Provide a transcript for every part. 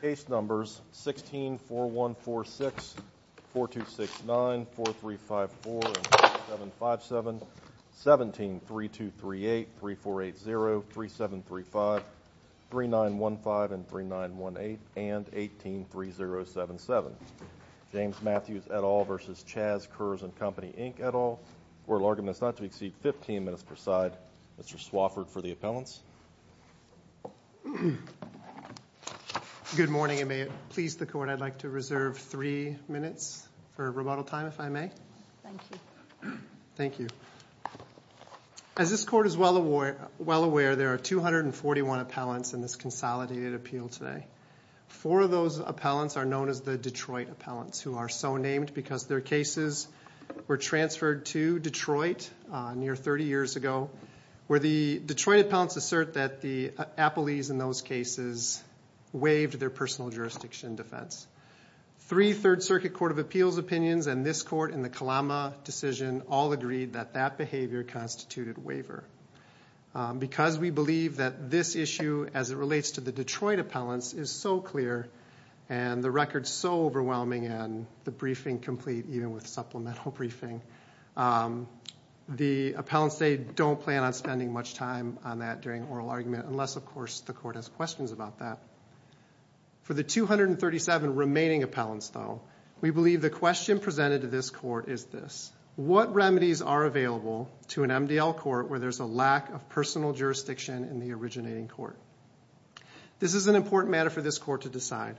Case numbers 164146, 4269, 4354 and 4757, 173238, 3480, 3735, 3915 and 3918, and 183077. James Matthews et al versus Chas Kurz and Co Inc et al. Court of argument is not to exceed 15 minutes per side. Mr. Swafford for the appellants. Good morning and may it please the court I'd like to reserve three minutes for rebuttal time if I may. Thank you. As this court is well aware there are 241 appellants in this consolidated appeal today. Four of those appellants are known as the Detroit appellants who are so named because their cases were transferred to Detroit near 30 years ago where the Detroit appellants assert that the appellees in those cases waived their personal jurisdiction defense. Three Third Circuit Court of Appeals opinions and this court in the Kalama decision all agreed that that behavior constituted waiver. Because we believe that this issue as it relates to the Detroit appellants is so clear and the record is so overwhelming and the briefing complete even with supplemental briefing. The appellants they don't plan on spending much time on that during oral argument unless of course the court has questions about that. For the 237 remaining appellants though we believe the question presented to this court is this. What remedies are available to an MDL court where there's a lack of personal This is an important matter for this court to decide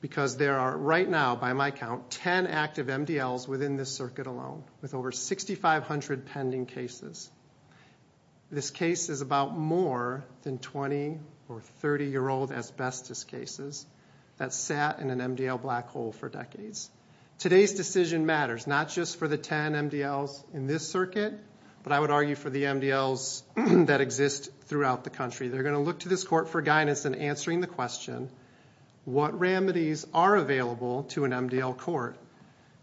because there are right now by my count 10 active MDLs within this circuit alone with over 6,500 pending cases. This case is about more than 20 or 30 year old asbestos cases that sat in an MDL black hole for decades. Today's decision matters not just for the 10 MDLs in this circuit but I would argue for the MDLs that exist throughout the country. They're going to look to this court for guidance in answering the question, what remedies are available to an MDL court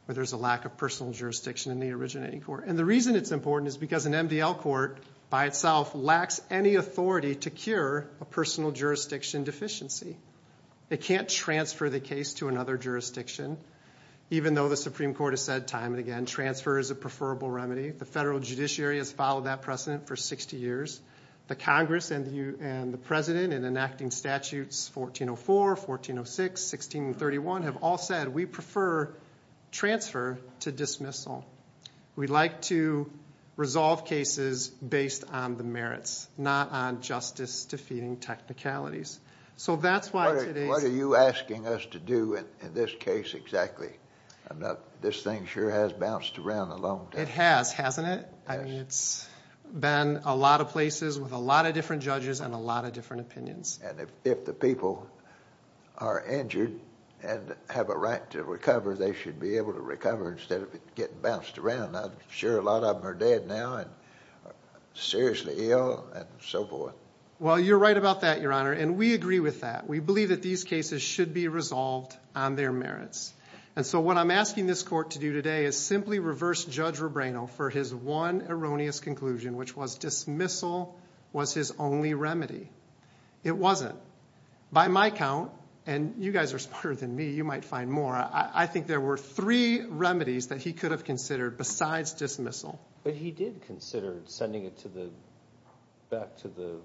where there's a lack of personal jurisdiction in the originating court. And the reason it's important is because an MDL court by itself lacks any authority to cure a personal jurisdiction deficiency. It can't transfer the case to another jurisdiction even though the Supreme Court has said time and again transfer is a preferable remedy. The federal judiciary has followed that precedent for 60 years. The Congress and the President in enacting statutes 1404, 1406, 1631 have all said we prefer transfer to dismissal. We'd like to resolve cases based on the merits not on justice defeating technicalities. So that's why today's What are you asking us to do in this case exactly? This thing sure has bounced around a long time. It has, hasn't it? I mean it's been a lot of places with a lot of different judges and a lot of different opinions. And if the people are injured and have a right to recover they should be able to recover instead of getting bounced around. I'm sure a lot of them are dead now and seriously ill and so forth. Well you're right about that, Your Honor, and we agree with that. We believe that these cases should be resolved on their merits. And so what I'm asking this court to do today is simply reverse Judge Rebrano for his one erroneous conclusion, which was dismissal was his only remedy. It wasn't. By my count, and you guys are smarter than me, you might find more, I think there were three remedies that he could have considered besides dismissal. But he did consider sending it back to the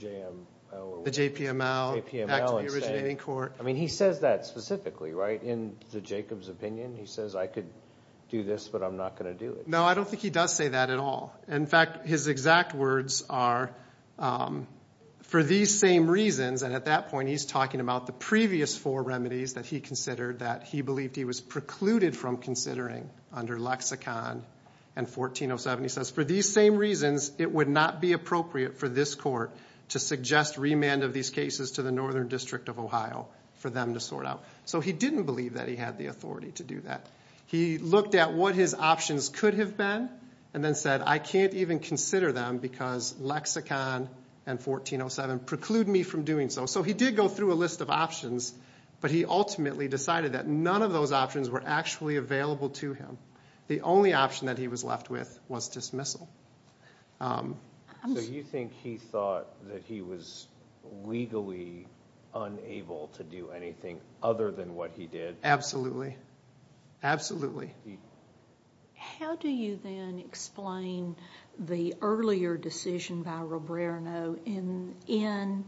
JPML. The JPML, back to the originating court. I mean he says that specifically, right? In Jacob's opinion, he says I could do this but I'm not going to do it. No, I don't think he does say that at all. In fact, his exact words are, for these same reasons, and at that point he's talking about the previous four remedies that he considered that he believed he was precluded from considering under lexicon and 1407. He says, for these same reasons it would not be appropriate for this court to suggest remand of these cases to the Northern District of Ohio for them to sort out. So he didn't believe that he had the authority to do that. He looked at what his options could have been and then said I can't even consider them because lexicon and 1407 preclude me from doing so. So he did go through a list of options, but he ultimately decided that none of those options were actually available to him. The only option that he was left with was dismissal. So you think he thought that he was legally unable to do anything other than what he did? Absolutely. Absolutely. How do you then explain the earlier decision by Roberto in an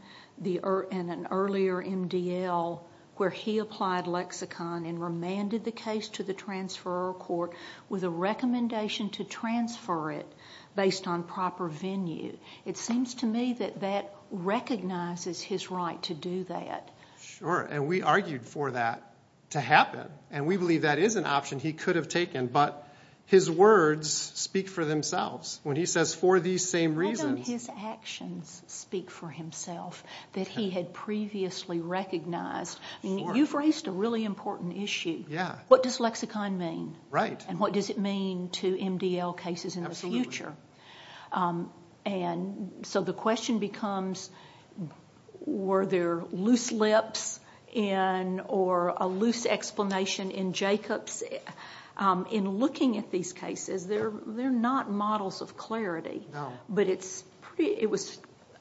earlier MDL where he applied lexicon and remanded the case to the transferor court with a recommendation to transfer it based on proper venue? It seems to me that that recognizes his right to do that. Sure. And we argued for that to happen. And we believe that is an option he could have taken. But his words speak for themselves when he says for these same reasons. How do his actions speak for himself that he had previously recognized? You've raised a really important issue. What does lexicon mean? And what does it mean to MDL cases in the future? So the question becomes, were there loose lips or a loose explanation in Jacobs? In looking at these cases, they're not models of clarity.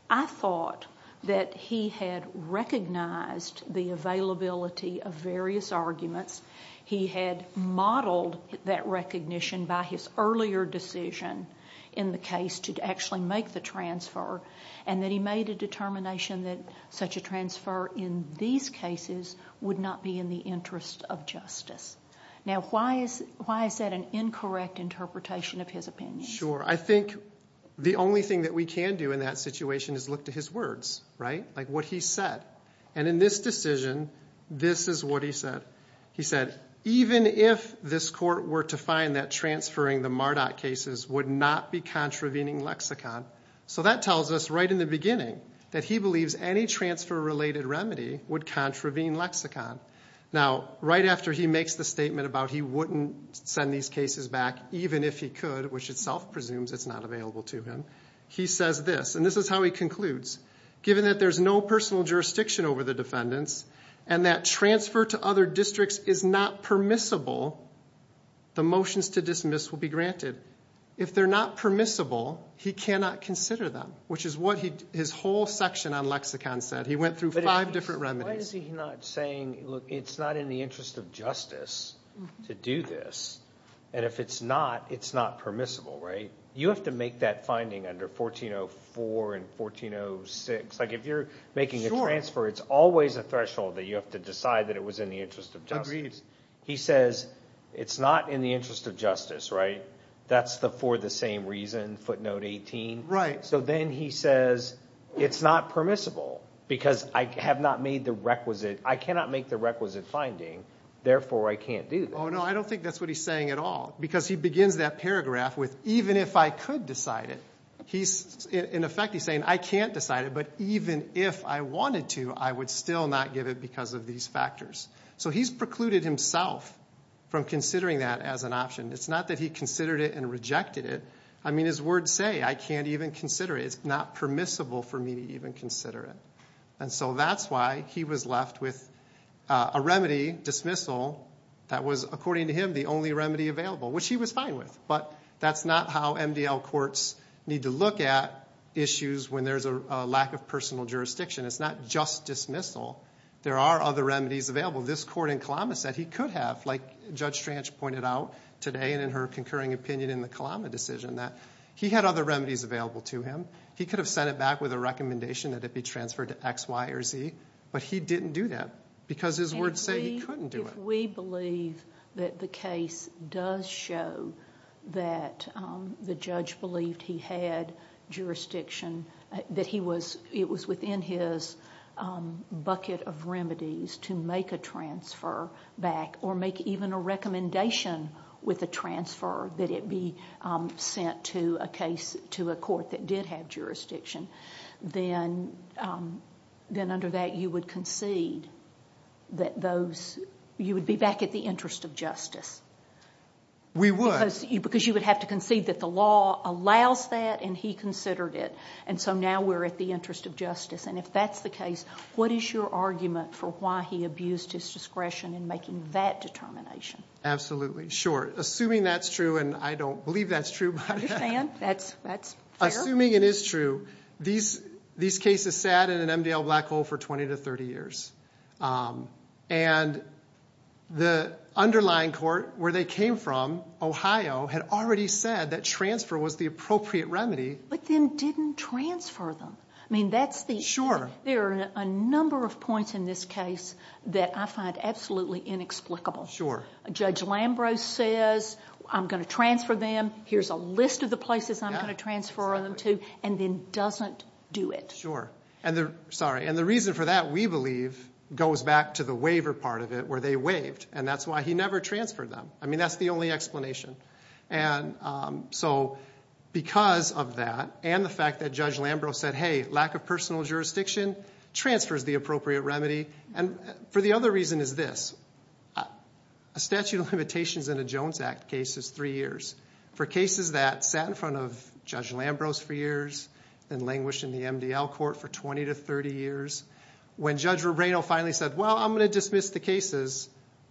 I thought that he had recognized the availability of various arguments. He had modeled that recognition by his earlier decision in the case to actually make the transfer. And that he made a determination that such a transfer in these cases would not be in the interest of justice. Now, why is that an incorrect interpretation of his opinion? Sure. I think the only thing that we can do in that situation is look to his words, right? Like what he said. And in this decision, this is what he said. He said, even if this court were to find that transferring the Mardot cases would not be contravening lexicon. So that tells us right in the beginning that he believes any transfer-related remedy would contravene lexicon. Now, right after he makes the statement about he wouldn't send these cases back even if he could, which itself presumes it's not available to him, he says this. And this is how he concludes. Given that there's no personal jurisdiction over the defendants and that transfer to other districts is not permissible, the motions to dismiss will be granted. If they're not permissible, he cannot consider them, which is what his whole section on lexicon said. He went through five different remedies. Why is he not saying, look, it's not in the interest of justice to do this. And if it's not, it's not permissible, right? You have to make that finding under 1404 and 1406. Like, if you're making a transfer, it's always a threshold that you have to decide that it was in the interest of justice. He says, it's not in the interest of justice, right? That's for the same reason, footnote 18. So then he says, it's not permissible because I have not made the requisite, I cannot make the requisite finding, therefore I can't do this. No, I don't think that's what he's saying at all. Because he begins that paragraph with even if I wanted to, I would still not give it because of these factors. So he's precluded himself from considering that as an option. It's not that he considered it and rejected it. I mean, his words say, I can't even consider it. It's not permissible for me to even consider it. And so that's why he was left with a remedy, dismissal, that was, according to him, the only remedy available, which he was fine with. But that's not how MDL courts need to look at issues when there's a lack of personal jurisdiction. It's not just dismissal. There are other remedies available. This court in Kalama said he could have, like Judge Stranch pointed out today and in her concurring opinion in the Kalama decision, that he had other remedies available to him. He could have sent it back with a recommendation that it be transferred to X, Y, or Z. But he didn't do that because his words say he couldn't do it. If we believe that the case does show that the judge believed he had jurisdiction, that he was, it was within his bucket of remedies to make a transfer back or make even a recommendation with a transfer that it be sent to a case, to a court that did have jurisdiction, then under that you would concede that those, you would be back at the interest of justice. We would. Because you would have to concede that the law allows that and he considered it. And so now we're at the interest of justice. And if that's the case, what is your argument for why he abused his discretion in making that determination? Absolutely. Sure. Assuming that's true, and I don't believe that's true. I understand. That's fair. Assuming it is true, these cases sat in an MDL black hole for 20 to 30 years. And the underlying court where they came from, Ohio, had already said that transfer was the appropriate remedy. But then didn't transfer them. I mean, that's the... Sure. There are a number of points in this case that I find absolutely inexplicable. Sure. Judge Lambrou says, I'm going to transfer them. Here's a list of the places I'm going to transfer them to, and then doesn't do it. Sure. Sorry. And the reason for that, we believe, goes back to the waiver part of it, where they waived. And that's why he never transferred them. I mean, that's the only explanation. And so because of that, and the fact that Judge Lambrou said, hey, lack of personal jurisdiction transfers the appropriate remedy. And for the other reason is this. A statute of limitations in a Jones Act case is three years. For cases that sat in front of Judge Lambrou for years, then languished in the MDL court for 20 to 30 years, when Judge Rubino finally said, well, I'm going to dismiss the cases,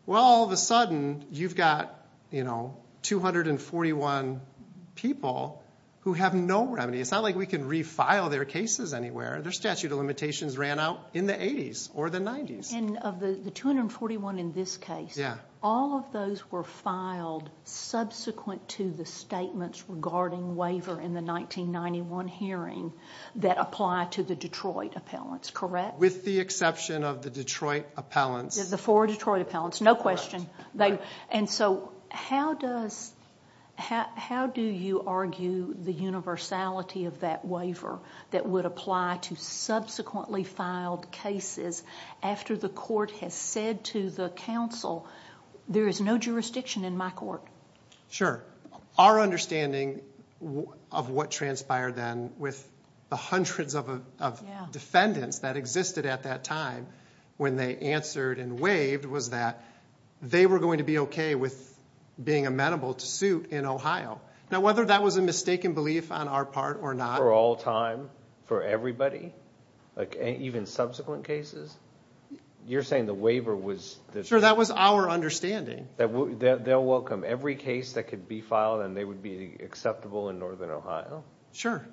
well, all of a sudden, you've got 241 people who have no remedy. It's not like we can refile their cases anywhere. Their statute of limitations ran out in the 80s or the 90s. And of the 241 in this case, all of those were filed subsequent to the statements regarding waiver in the 1991 hearing that apply to the Detroit appellants, correct? With the exception of the Detroit appellants. The four Detroit appellants. No question. And so how do you argue the universality of that waiver that would apply to subsequently filed cases after the court has said to the counsel, there is no jurisdiction in my court? Sure. Our understanding of what transpired then with the hundreds of defendants that existed at that time when they answered and waived was that they were going to be okay with being amenable to suit in Ohio. Now, whether that was a mistaken belief on our part or not. For all time? For everybody? Even subsequent cases? You're saying the waiver was... Sure. That was our understanding. They'll welcome every case that could be filed and they would be acceptable in northern Ohio? Sure.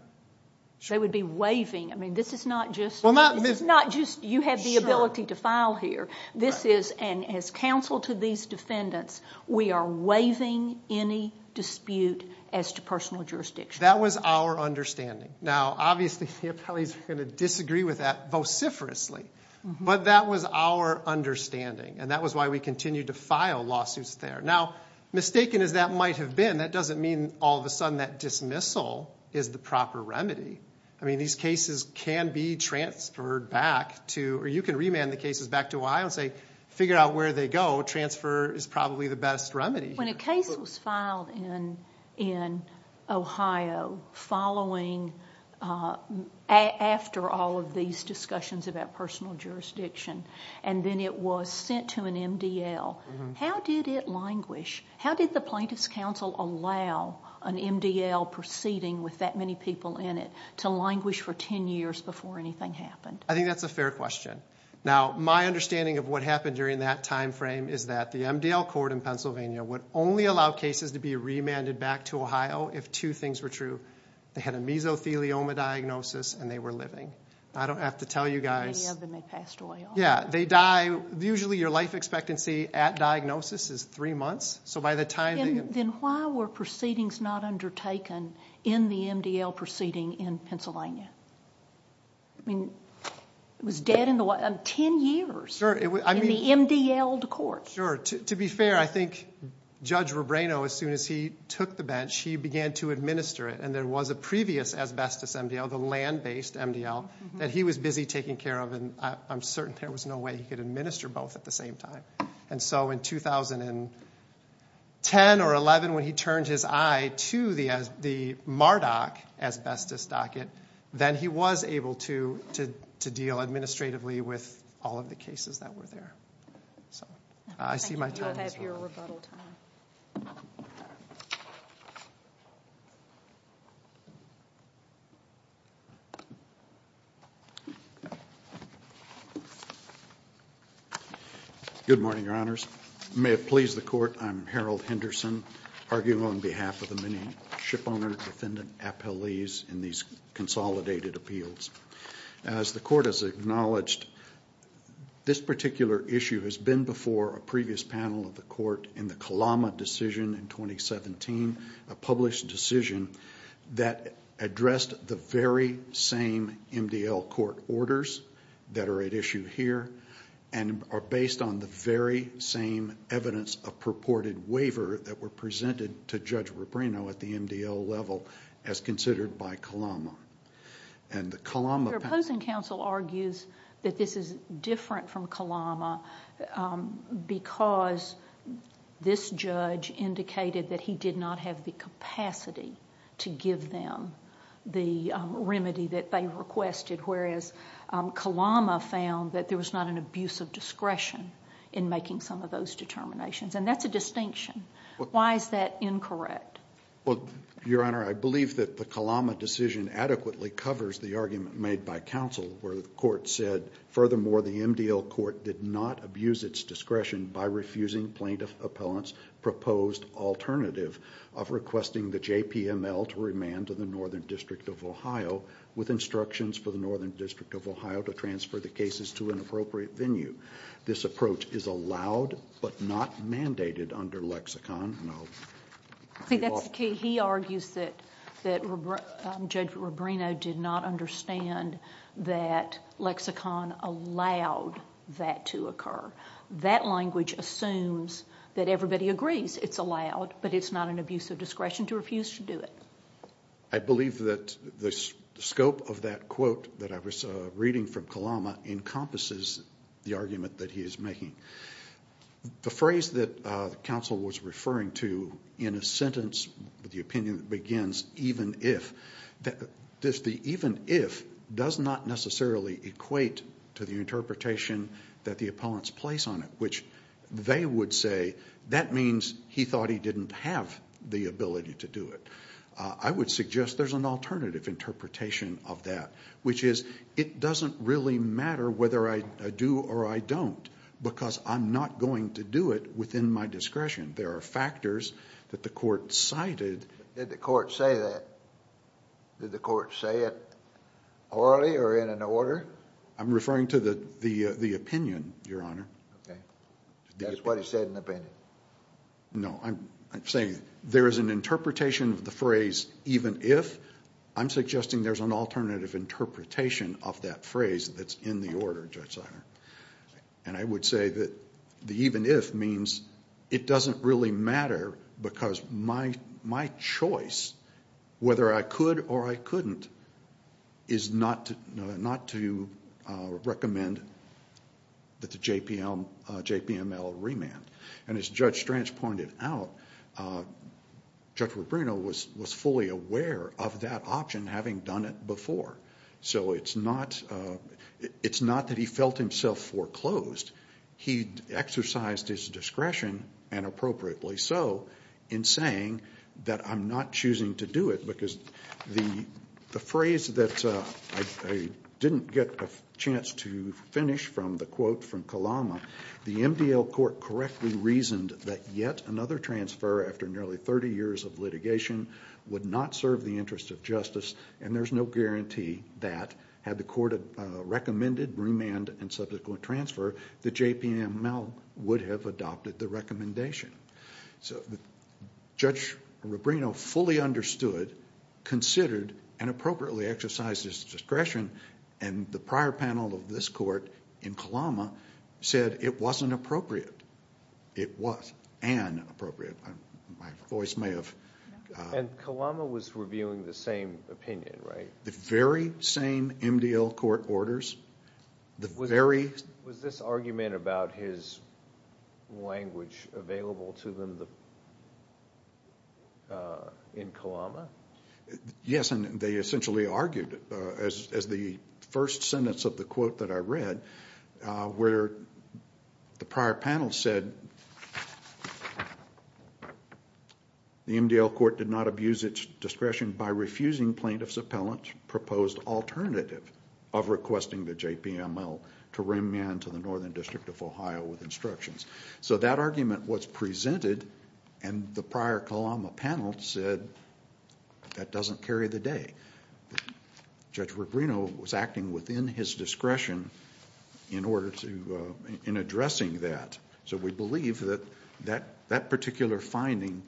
They would be waiving. I mean, this is not just... Well, not... This is not just you have the ability to file here. This is, and as counsel to these defendants, we are waiving any dispute as to personal jurisdiction. That was our understanding. Now, obviously the appellees are going to disagree with that vociferously, but that was our understanding and that was why we continued to file lawsuits there. Now, mistaken as that might have been, that doesn't mean all of a sudden that dismissal is the proper remedy. I mean, these cases can be transferred back to, or you can remand the cases back to Ohio and say, figure out where they go. Transfer is probably the best remedy. When a case was filed in Ohio following, after all of these discussions about personal jurisdiction, and then it was sent to an MDL, how did it languish? How did the plaintiff's counsel allow an MDL proceeding with that many people in it to languish for 10 years before anything happened? I think that's a fair question. Now, my understanding of what happened during that timeframe is that the MDL court in Pennsylvania would only allow cases to be remanded back to Ohio if two things were true. They had a mesothelioma diagnosis and they were living. I don't have to tell you guys. Many of them had passed away. Yeah, they die. Usually your life expectancy at diagnosis is three months. Then why were proceedings not undertaken in the MDL proceeding in Pennsylvania? I mean, it was dead in 10 years in the MDLed court. Sure. To be fair, I think Judge Rubreno, as soon as he took the bench, he began to administer it. There was a previous asbestos MDL, the land-based MDL, that he was busy taking care of. I'm certain there was no way he could administer both at the same time. So in 2010 or 11, when he turned his eye to the MARDOC asbestos docket, then he was able to deal administratively with all of the cases that were there. Thank you for your rebuttal time. Good morning, Your Honors. May it please the Court, I'm Harold Henderson, arguing on behalf of the many shipowner defendant appellees in these consolidated appeals. As the Court has acknowledged, this particular issue has been before a previous panel of the Court in the Kalama decision in 2017, a published decision that addressed the very same MDL court orders that are at issue here and are based on the very same evidence of purported waiver that were presented to Judge Rubreno at the MDL level as considered by Kalama. Your opposing counsel argues that this is different from Kalama because this judge indicated that he did not have the capacity to give them the remedy that they requested, whereas Kalama found that there was not an abuse of discretion in making some of those determinations, and that's a distinction. Why is that incorrect? Well, Your Honor, I believe that the Kalama decision adequately covers the argument made by counsel where the Court said, furthermore, the MDL court did not abuse its discretion by refusing plaintiff appellant's proposed alternative of requesting the JPML to remand to the Northern District of Ohio with instructions for the Northern District of Ohio to transfer the cases to an appropriate venue. This approach is allowed but not mandated under lexicon. See, that's the key. He argues that Judge Rubreno did not understand that lexicon allowed that to occur. That language assumes that everybody agrees it's allowed, but it's not an abuse of discretion to refuse to do it. I believe that the scope of that quote that I was reading from Kalama encompasses the referring to in a sentence with the opinion that begins, even if. The even if does not necessarily equate to the interpretation that the appellants place on it, which they would say that means he thought he didn't have the ability to do it. I would suggest there's an alternative interpretation of that, which is it doesn't really matter whether I do or I don't because I'm not going to do it within my discretion. There are factors that the court cited. Did the court say that? Did the court say it orally or in an order? I'm referring to the opinion, Your Honor. Okay. That's what he said in opinion. No, I'm saying there is an interpretation of the phrase even if. I'm suggesting there's an alternative interpretation of that phrase that's in the order, Judge Seiler. I would say that the even if means it doesn't really matter because my choice, whether I could or I couldn't, is not to recommend that the JPML remand. And as Judge Stranch pointed out, Judge Rubino was fully aware of that option having done it before. So it's not that he felt himself foreclosed. He exercised his discretion and appropriately so in saying that I'm not choosing to do it because the phrase that I didn't get a chance to finish from the quote from Kalama, the MDL court correctly reasoned that yet another transfer after nearly 30 years of litigation would not serve the interest of justice and there's no guarantee that had the court recommended remand and subsequent transfer, the JPML would have adopted the recommendation. So Judge Rubino fully understood, considered, and appropriately exercised his discretion and the prior panel of this court in Kalama said it wasn't appropriate. It was and appropriate. My voice may have... And Kalama was reviewing the same opinion, right? The very same MDL court orders, the very... Yes, and they essentially argued as the first sentence of the quote that I read where the prior panel said, the MDL court did not abuse its discretion by refusing plaintiff's appellant proposed alternative of requesting the JPML to remand to the Northern District of Ohio with instructions. So that argument was presented and the prior Kalama panel said that doesn't carry the day. Judge Rubino was acting within his discretion in order to, in addressing that. So we believe that that particular finding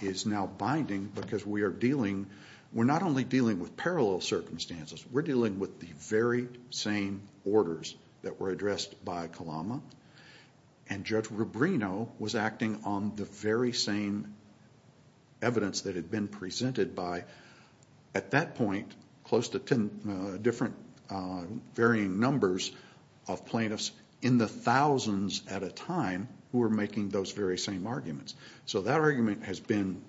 is now binding because we are dealing, we're not only dealing with parallel circumstances, we're dealing with the very same orders that were addressed by Kalama and Judge Rubino was acting on the very same evidence that had been presented by, at that point, close to 10 different varying numbers of plaintiffs in the thousands at a time who were making those very same arguments. So that argument has been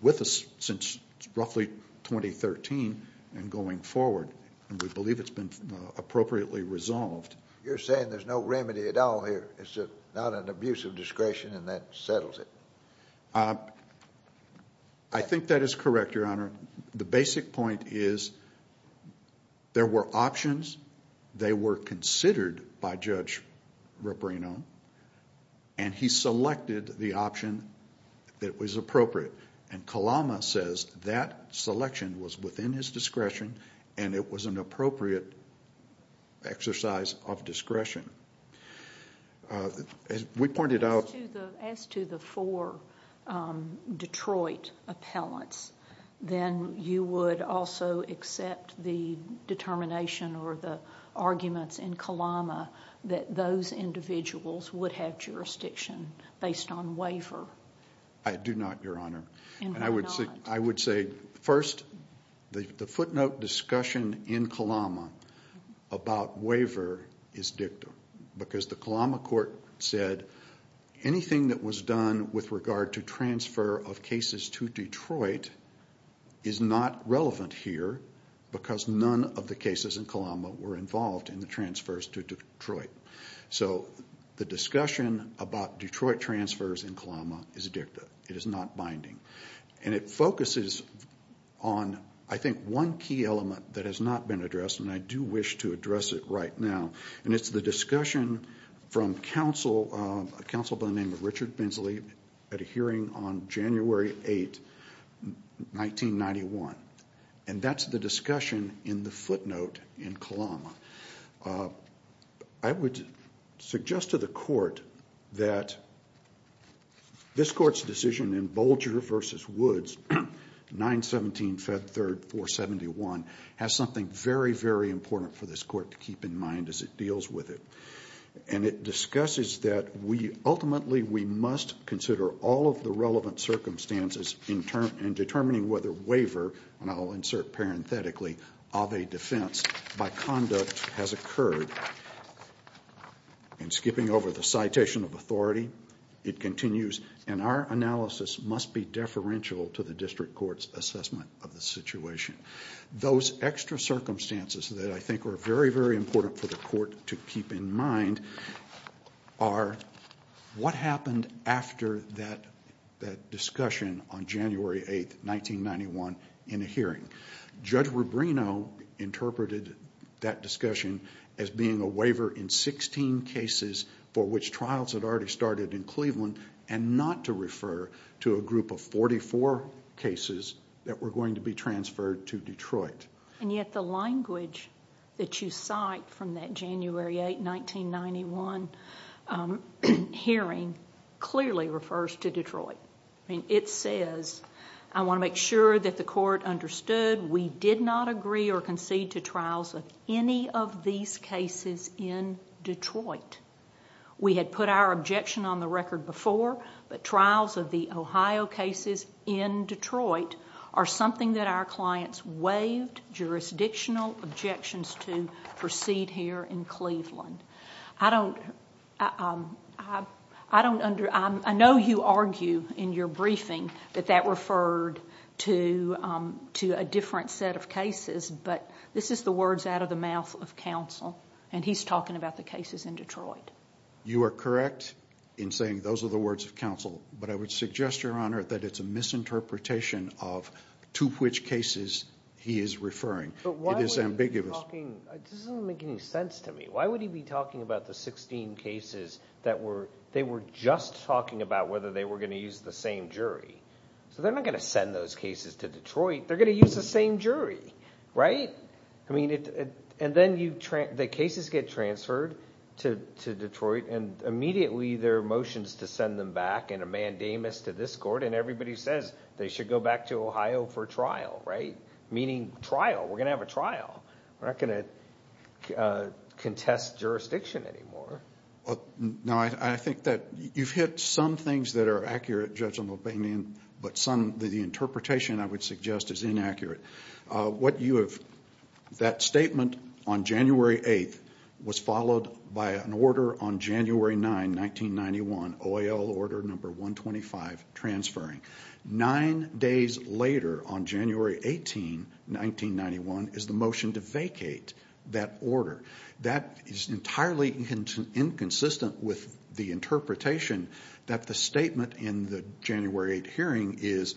with us since roughly 2013 and going forward and we believe it's been appropriately resolved. You're saying there's no remedy at all here. It's not an abuse of discretion and that settles it. I think that is correct, Your Honor. The basic point is there were options. They were considered by Judge Rubino and he selected the option that was appropriate and Kalama says that selection was within his discretion and it was an appropriate exercise of discretion. As we pointed out... As to the four Detroit appellants, then you would also accept the determination or the arguments in Kalama that those individuals would have I would say first, the footnote discussion in Kalama about waiver is dicta because the Kalama court said anything that was done with regard to transfer of cases to Detroit is not relevant here because none of the cases in Kalama were involved in the transfers to and it focuses on, I think, one key element that has not been addressed and I do wish to address it right now and it's the discussion from a counsel by the name of Richard Bensley at a hearing on January 8, 1991 and that's the discussion in the footnote in Kalama. I would suggest to the court that this court's decision in Bolger v. Woods, 917 Fed 3rd 471 has something very, very important for this court to keep in mind as it deals with it and it discusses that ultimately we must consider all of the relevant circumstances in determining whether waiver, and I'll insert parenthetically, of a defense by conduct has occurred. And skipping over the citation of authority, it continues, and our analysis must be deferential to the district court's assessment of the situation. Those extra circumstances that I think are very, very important for the court to keep in mind are what happened after that discussion on January 8, 1991 in a hearing. Judge Rubino interpreted that discussion as being a waiver in 16 cases for which trials had already started in Cleveland and not to refer to a group of 44 cases that were going to be transferred to Detroit. And yet the language that you cite from that January 8, 1991 hearing clearly refers to Detroit. It says, I want to make sure that the court understood we did not agree or concede to trials of any of these cases in Detroit. We had put our objection on the record before, but trials of the Ohio cases in Detroit are something that our clients waived jurisdictional objections to in Cleveland. I know you argue in your briefing that that referred to a different set of cases, but this is the words out of the mouth of counsel, and he's talking about the cases in Detroit. You are correct in saying those are the words of counsel, but I would suggest, Your Honor, that it's a misinterpretation of to which cases he is referring. It is ambiguous. This doesn't make any sense to me. Why would he be talking about the 16 cases that were just talking about whether they were going to use the same jury? They're not going to send those cases to Detroit. They're going to use the same jury, right? And then the cases get transferred to Detroit, and immediately there are motions to send them back and a mandamus to this court, and everybody says they should go back to Ohio for trial, right? Meaning trial. We're going to have a trial. We're not going to contest jurisdiction anymore. Now, I think that you've hit some things that are accurate, Judge McBain, but the interpretation, I would suggest, is inaccurate. That statement on January 8th was followed by an order on January 9, 1991, OIL order number 125, transferring. Nine days later, on January 18, 1991, is the motion to vacate that order. That is entirely inconsistent with the interpretation that the statement in the January 8th hearing is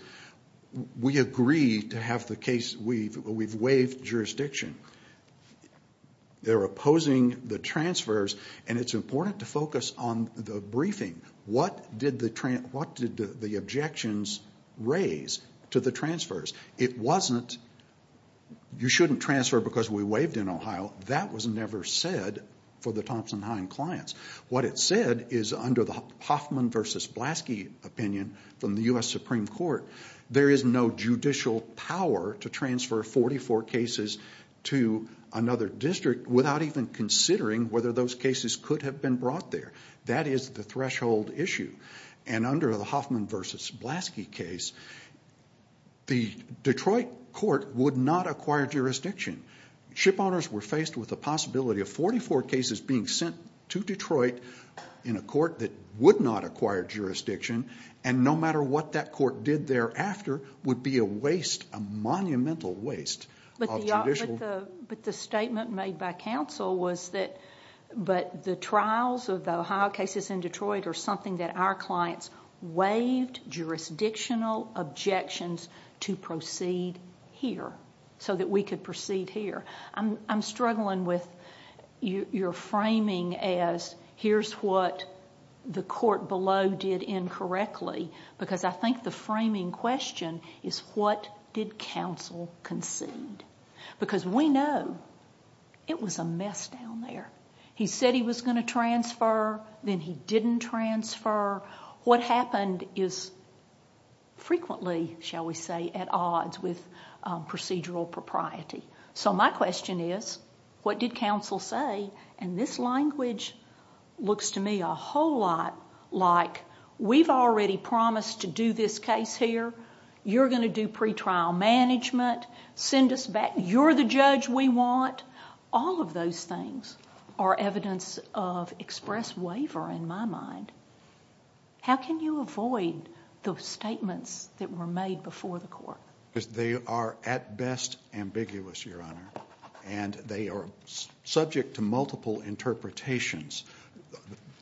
we agree to have the case, we've waived jurisdiction. They're opposing the transfers, and it's important to focus on the briefing. What did the objections raise to the transfers? It wasn't you shouldn't transfer because we waived in Ohio. That was never said for the Thompson-Hein clients. What it said is under the Hoffman v. Blaski opinion from the U.S. Supreme Court, there is no judicial power to transfer 44 cases to another district without even considering whether those cases could have been brought there. That is the threshold issue. Under the Hoffman v. Blaski case, the Detroit court would not acquire jurisdiction. Shipowners were faced with the possibility of 44 cases being sent to Detroit in a court that would not acquire jurisdiction, and no matter what that court did thereafter, would be a monumental waste of judicial... But the statement made by counsel was that the trials of the Ohio cases in Detroit are something that our clients waived jurisdictional objections to proceed here, so that we could proceed here. I'm struggling with your framing as here's what the court below did incorrectly because I think the framing question is what did counsel concede? Because we know it was a mess down there. He said he was going to transfer, then he didn't transfer. What happened is frequently, shall we say, at odds with procedural propriety. My question is what did counsel say? This language looks to me a whole lot like we've already promised to do this case here. You're going to do pretrial management. Send us back. You're the judge we want. All of those things are evidence of express waiver in my mind. How can you avoid those statements that were made before the court? They are at best ambiguous, Your Honor, and they are subject to multiple interpretations.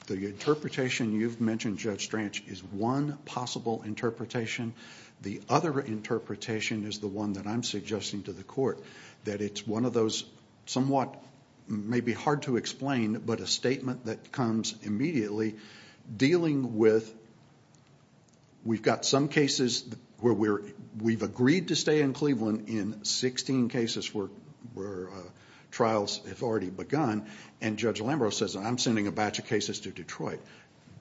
The interpretation you've mentioned, Judge Stranch, is one possible interpretation. The other interpretation is the one that I'm suggesting to the court, that it's one of those somewhat maybe hard to explain, but a statement that comes immediately dealing with we've got some cases where we've agreed to stay in Cleveland in 16 cases where trials have already begun, and Judge Lambros says I'm sending a batch of cases to Detroit.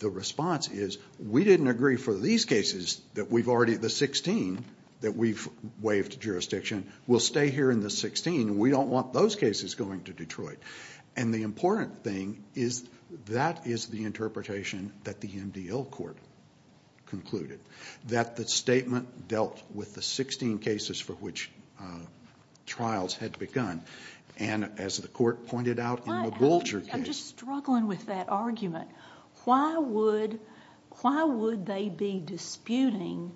The response is we didn't agree for these cases that we've already, the 16 that we've waived jurisdiction, we'll stay here in the 16. We don't want those cases going to Detroit. The important thing is that is the interpretation that the MDL court concluded, that the statement dealt with the 16 cases for which trials had begun, and as the court pointed out in the Bolger case. I'm just struggling with that argument. Why would they be disputing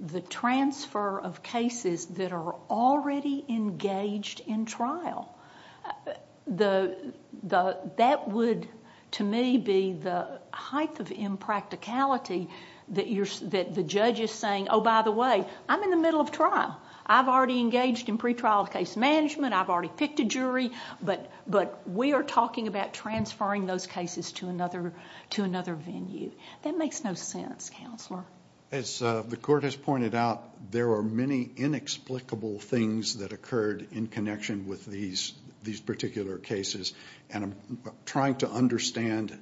the transfer of cases that are already engaged in trial? That would, to me, be the height of impracticality that the judge is saying, oh, by the way, I'm in the middle of trial. I've already engaged in pretrial case management. I've already picked a jury, but we are talking about transferring those cases to another venue. That makes no sense, Counselor. As the court has pointed out, there are many inexplicable things that occurred in connection with these particular cases, and I'm trying to understand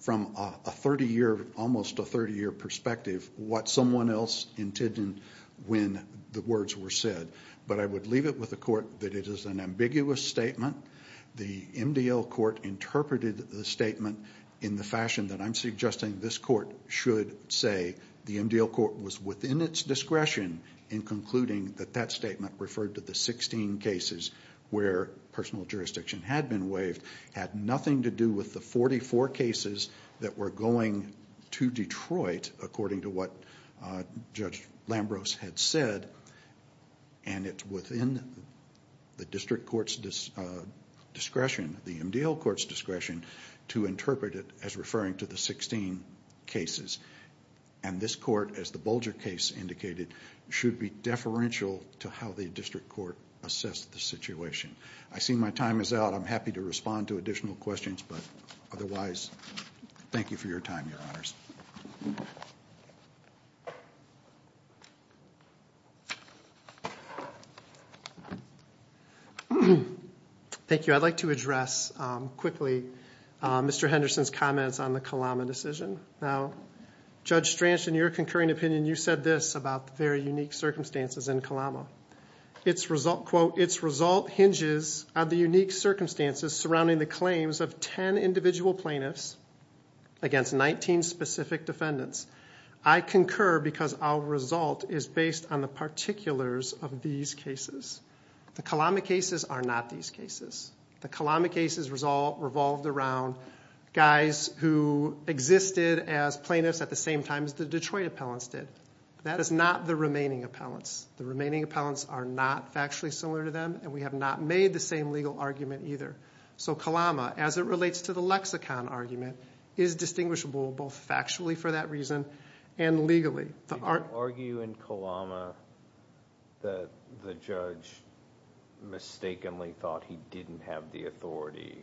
from a 30-year, almost a 30-year perspective, what someone else intended when the words were said. But I would leave it with the court that it is an ambiguous statement. The MDL court interpreted the statement in the fashion that I'm suggesting this court should say. The MDL court was within its discretion in concluding that that statement referred to the 16 cases where personal jurisdiction had been waived. It had nothing to do with the 44 cases that were going to Detroit, according to what Judge Lambros had said, and it's within the district court's discretion, the MDL court's discretion, to interpret it as referring to the 16 cases. And this court, as the Bolger case indicated, should be deferential to how the district court assessed the situation. I see my time is out. I'm happy to respond to additional questions, but otherwise, thank you for your time, Your Honors. Thank you. I'd like to address quickly Mr. Henderson's comments on the Kalama decision. Now, Judge Stranch, in your concurring opinion, you said this about the very unique circumstances in Kalama. Quote, its result hinges on the unique circumstances surrounding the claims of 10 individual plaintiffs against 19 specific defendants. I concur because our result is based on the particulars of these cases. The Kalama cases are not these cases. The Kalama cases revolved around guys who existed as plaintiffs at the same time as the Detroit appellants did. That is not the remaining appellants. The remaining appellants are not factually similar to them, and we have not made the same legal argument either. So Kalama, as it relates to the lexicon argument, is distinguishable both factually for that reason and legally. Did you argue in Kalama that the judge mistakenly thought he didn't have the authority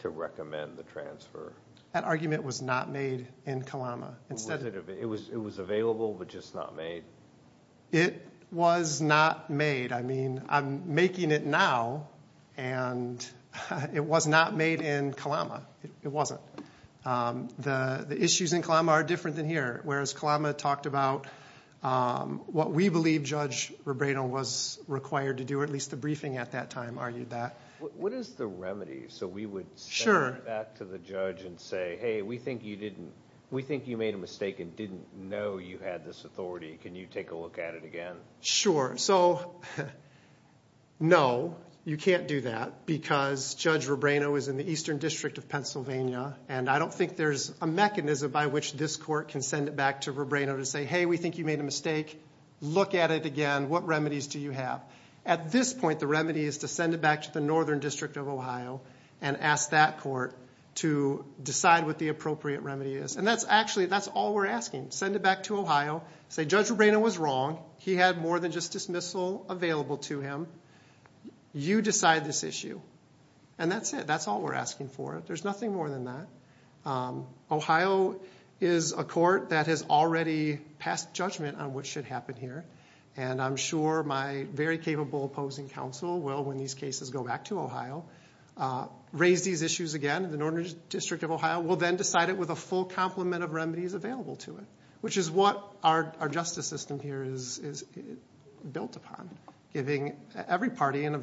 to recommend the transfer? That argument was not made in Kalama. It was available, but just not made? It was not made. I mean, I'm making it now, and it was not made in Kalama. It wasn't. The issues in Kalama are different than here, whereas Kalama talked about what we believe Judge Rebrano was required to do, at least the briefing at that time argued that. What is the remedy so we would send that to the judge and say, hey, we think you made a mistake and didn't know you had this authority? Can you take a look at it again? Sure. So no, you can't do that because Judge Rebrano is in the Eastern District of Pennsylvania, and I don't think there's a mechanism by which this court can send it back to Rebrano to say, hey, we think you made a mistake. Look at it again. What remedies do you have? At this point, the remedy is to send it back to the Northern District of Ohio and ask that court to decide what the appropriate remedy is, and that's actually all we're asking. Send it back to Ohio. Say Judge Rebrano was wrong. He had more than just dismissal available to him. You decide this issue, and that's it. That's all we're asking for. There's nothing more than that. Ohio is a court that has already passed judgment on what should happen here, and I'm sure my very capable opposing counsel will, when these cases go back to Ohio, raise these issues again. The Northern District of Ohio will then decide it with a full complement of remedies available to it, which is what our justice system here is built upon, giving every party an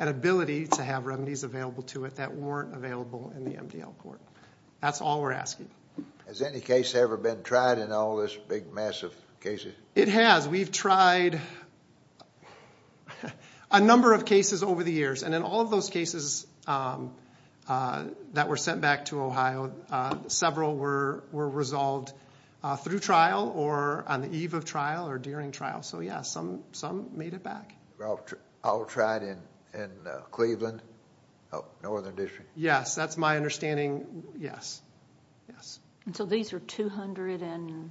ability to have remedies available to it that weren't available in the MDL court. That's all we're asking. Has any case ever been tried in all this big mess of cases? It has. We've tried a number of cases over the years, and in all of those cases that were sent back to Ohio, several were resolved through trial or on the eve of trial or during trial. Some made it back. All tried in Cleveland, Northern District? Yes. That's my understanding, yes. These are 237?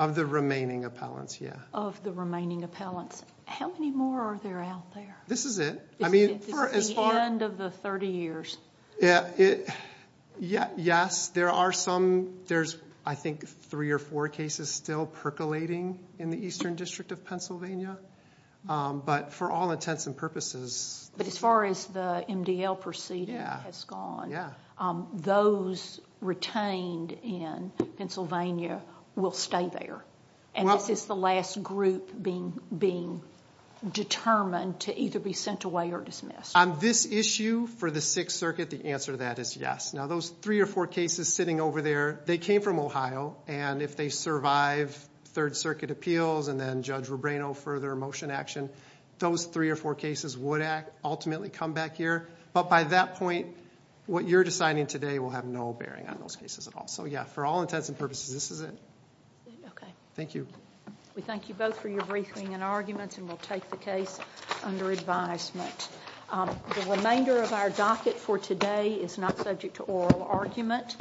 Of the remaining appellants, yes. Of the remaining appellants. How many more are there out there? This is it. It's the end of the 30 years. Yes, there are some. There's, I think, three or four cases still percolating in the Eastern District of Pennsylvania, but for all intents and purposes. But as far as the MDL proceeding has gone, those retained in Pennsylvania will stay there, and this is the last group being determined to either be sent away or dismissed. On this issue, for the Sixth Circuit, the answer to that is yes. Now, those three or four cases sitting over there, they came from Ohio, and if they survive Third Circuit appeals and then Judge Rubrano further motion action, those three or four cases would ultimately come back here. But by that point, what you're deciding today will have no bearing on those cases at all. For all intents and purposes, this is it. Thank you. We thank you both for your briefing and arguments, and we'll take the case under advisement. The remainder of our docket for today is not subject to oral argument.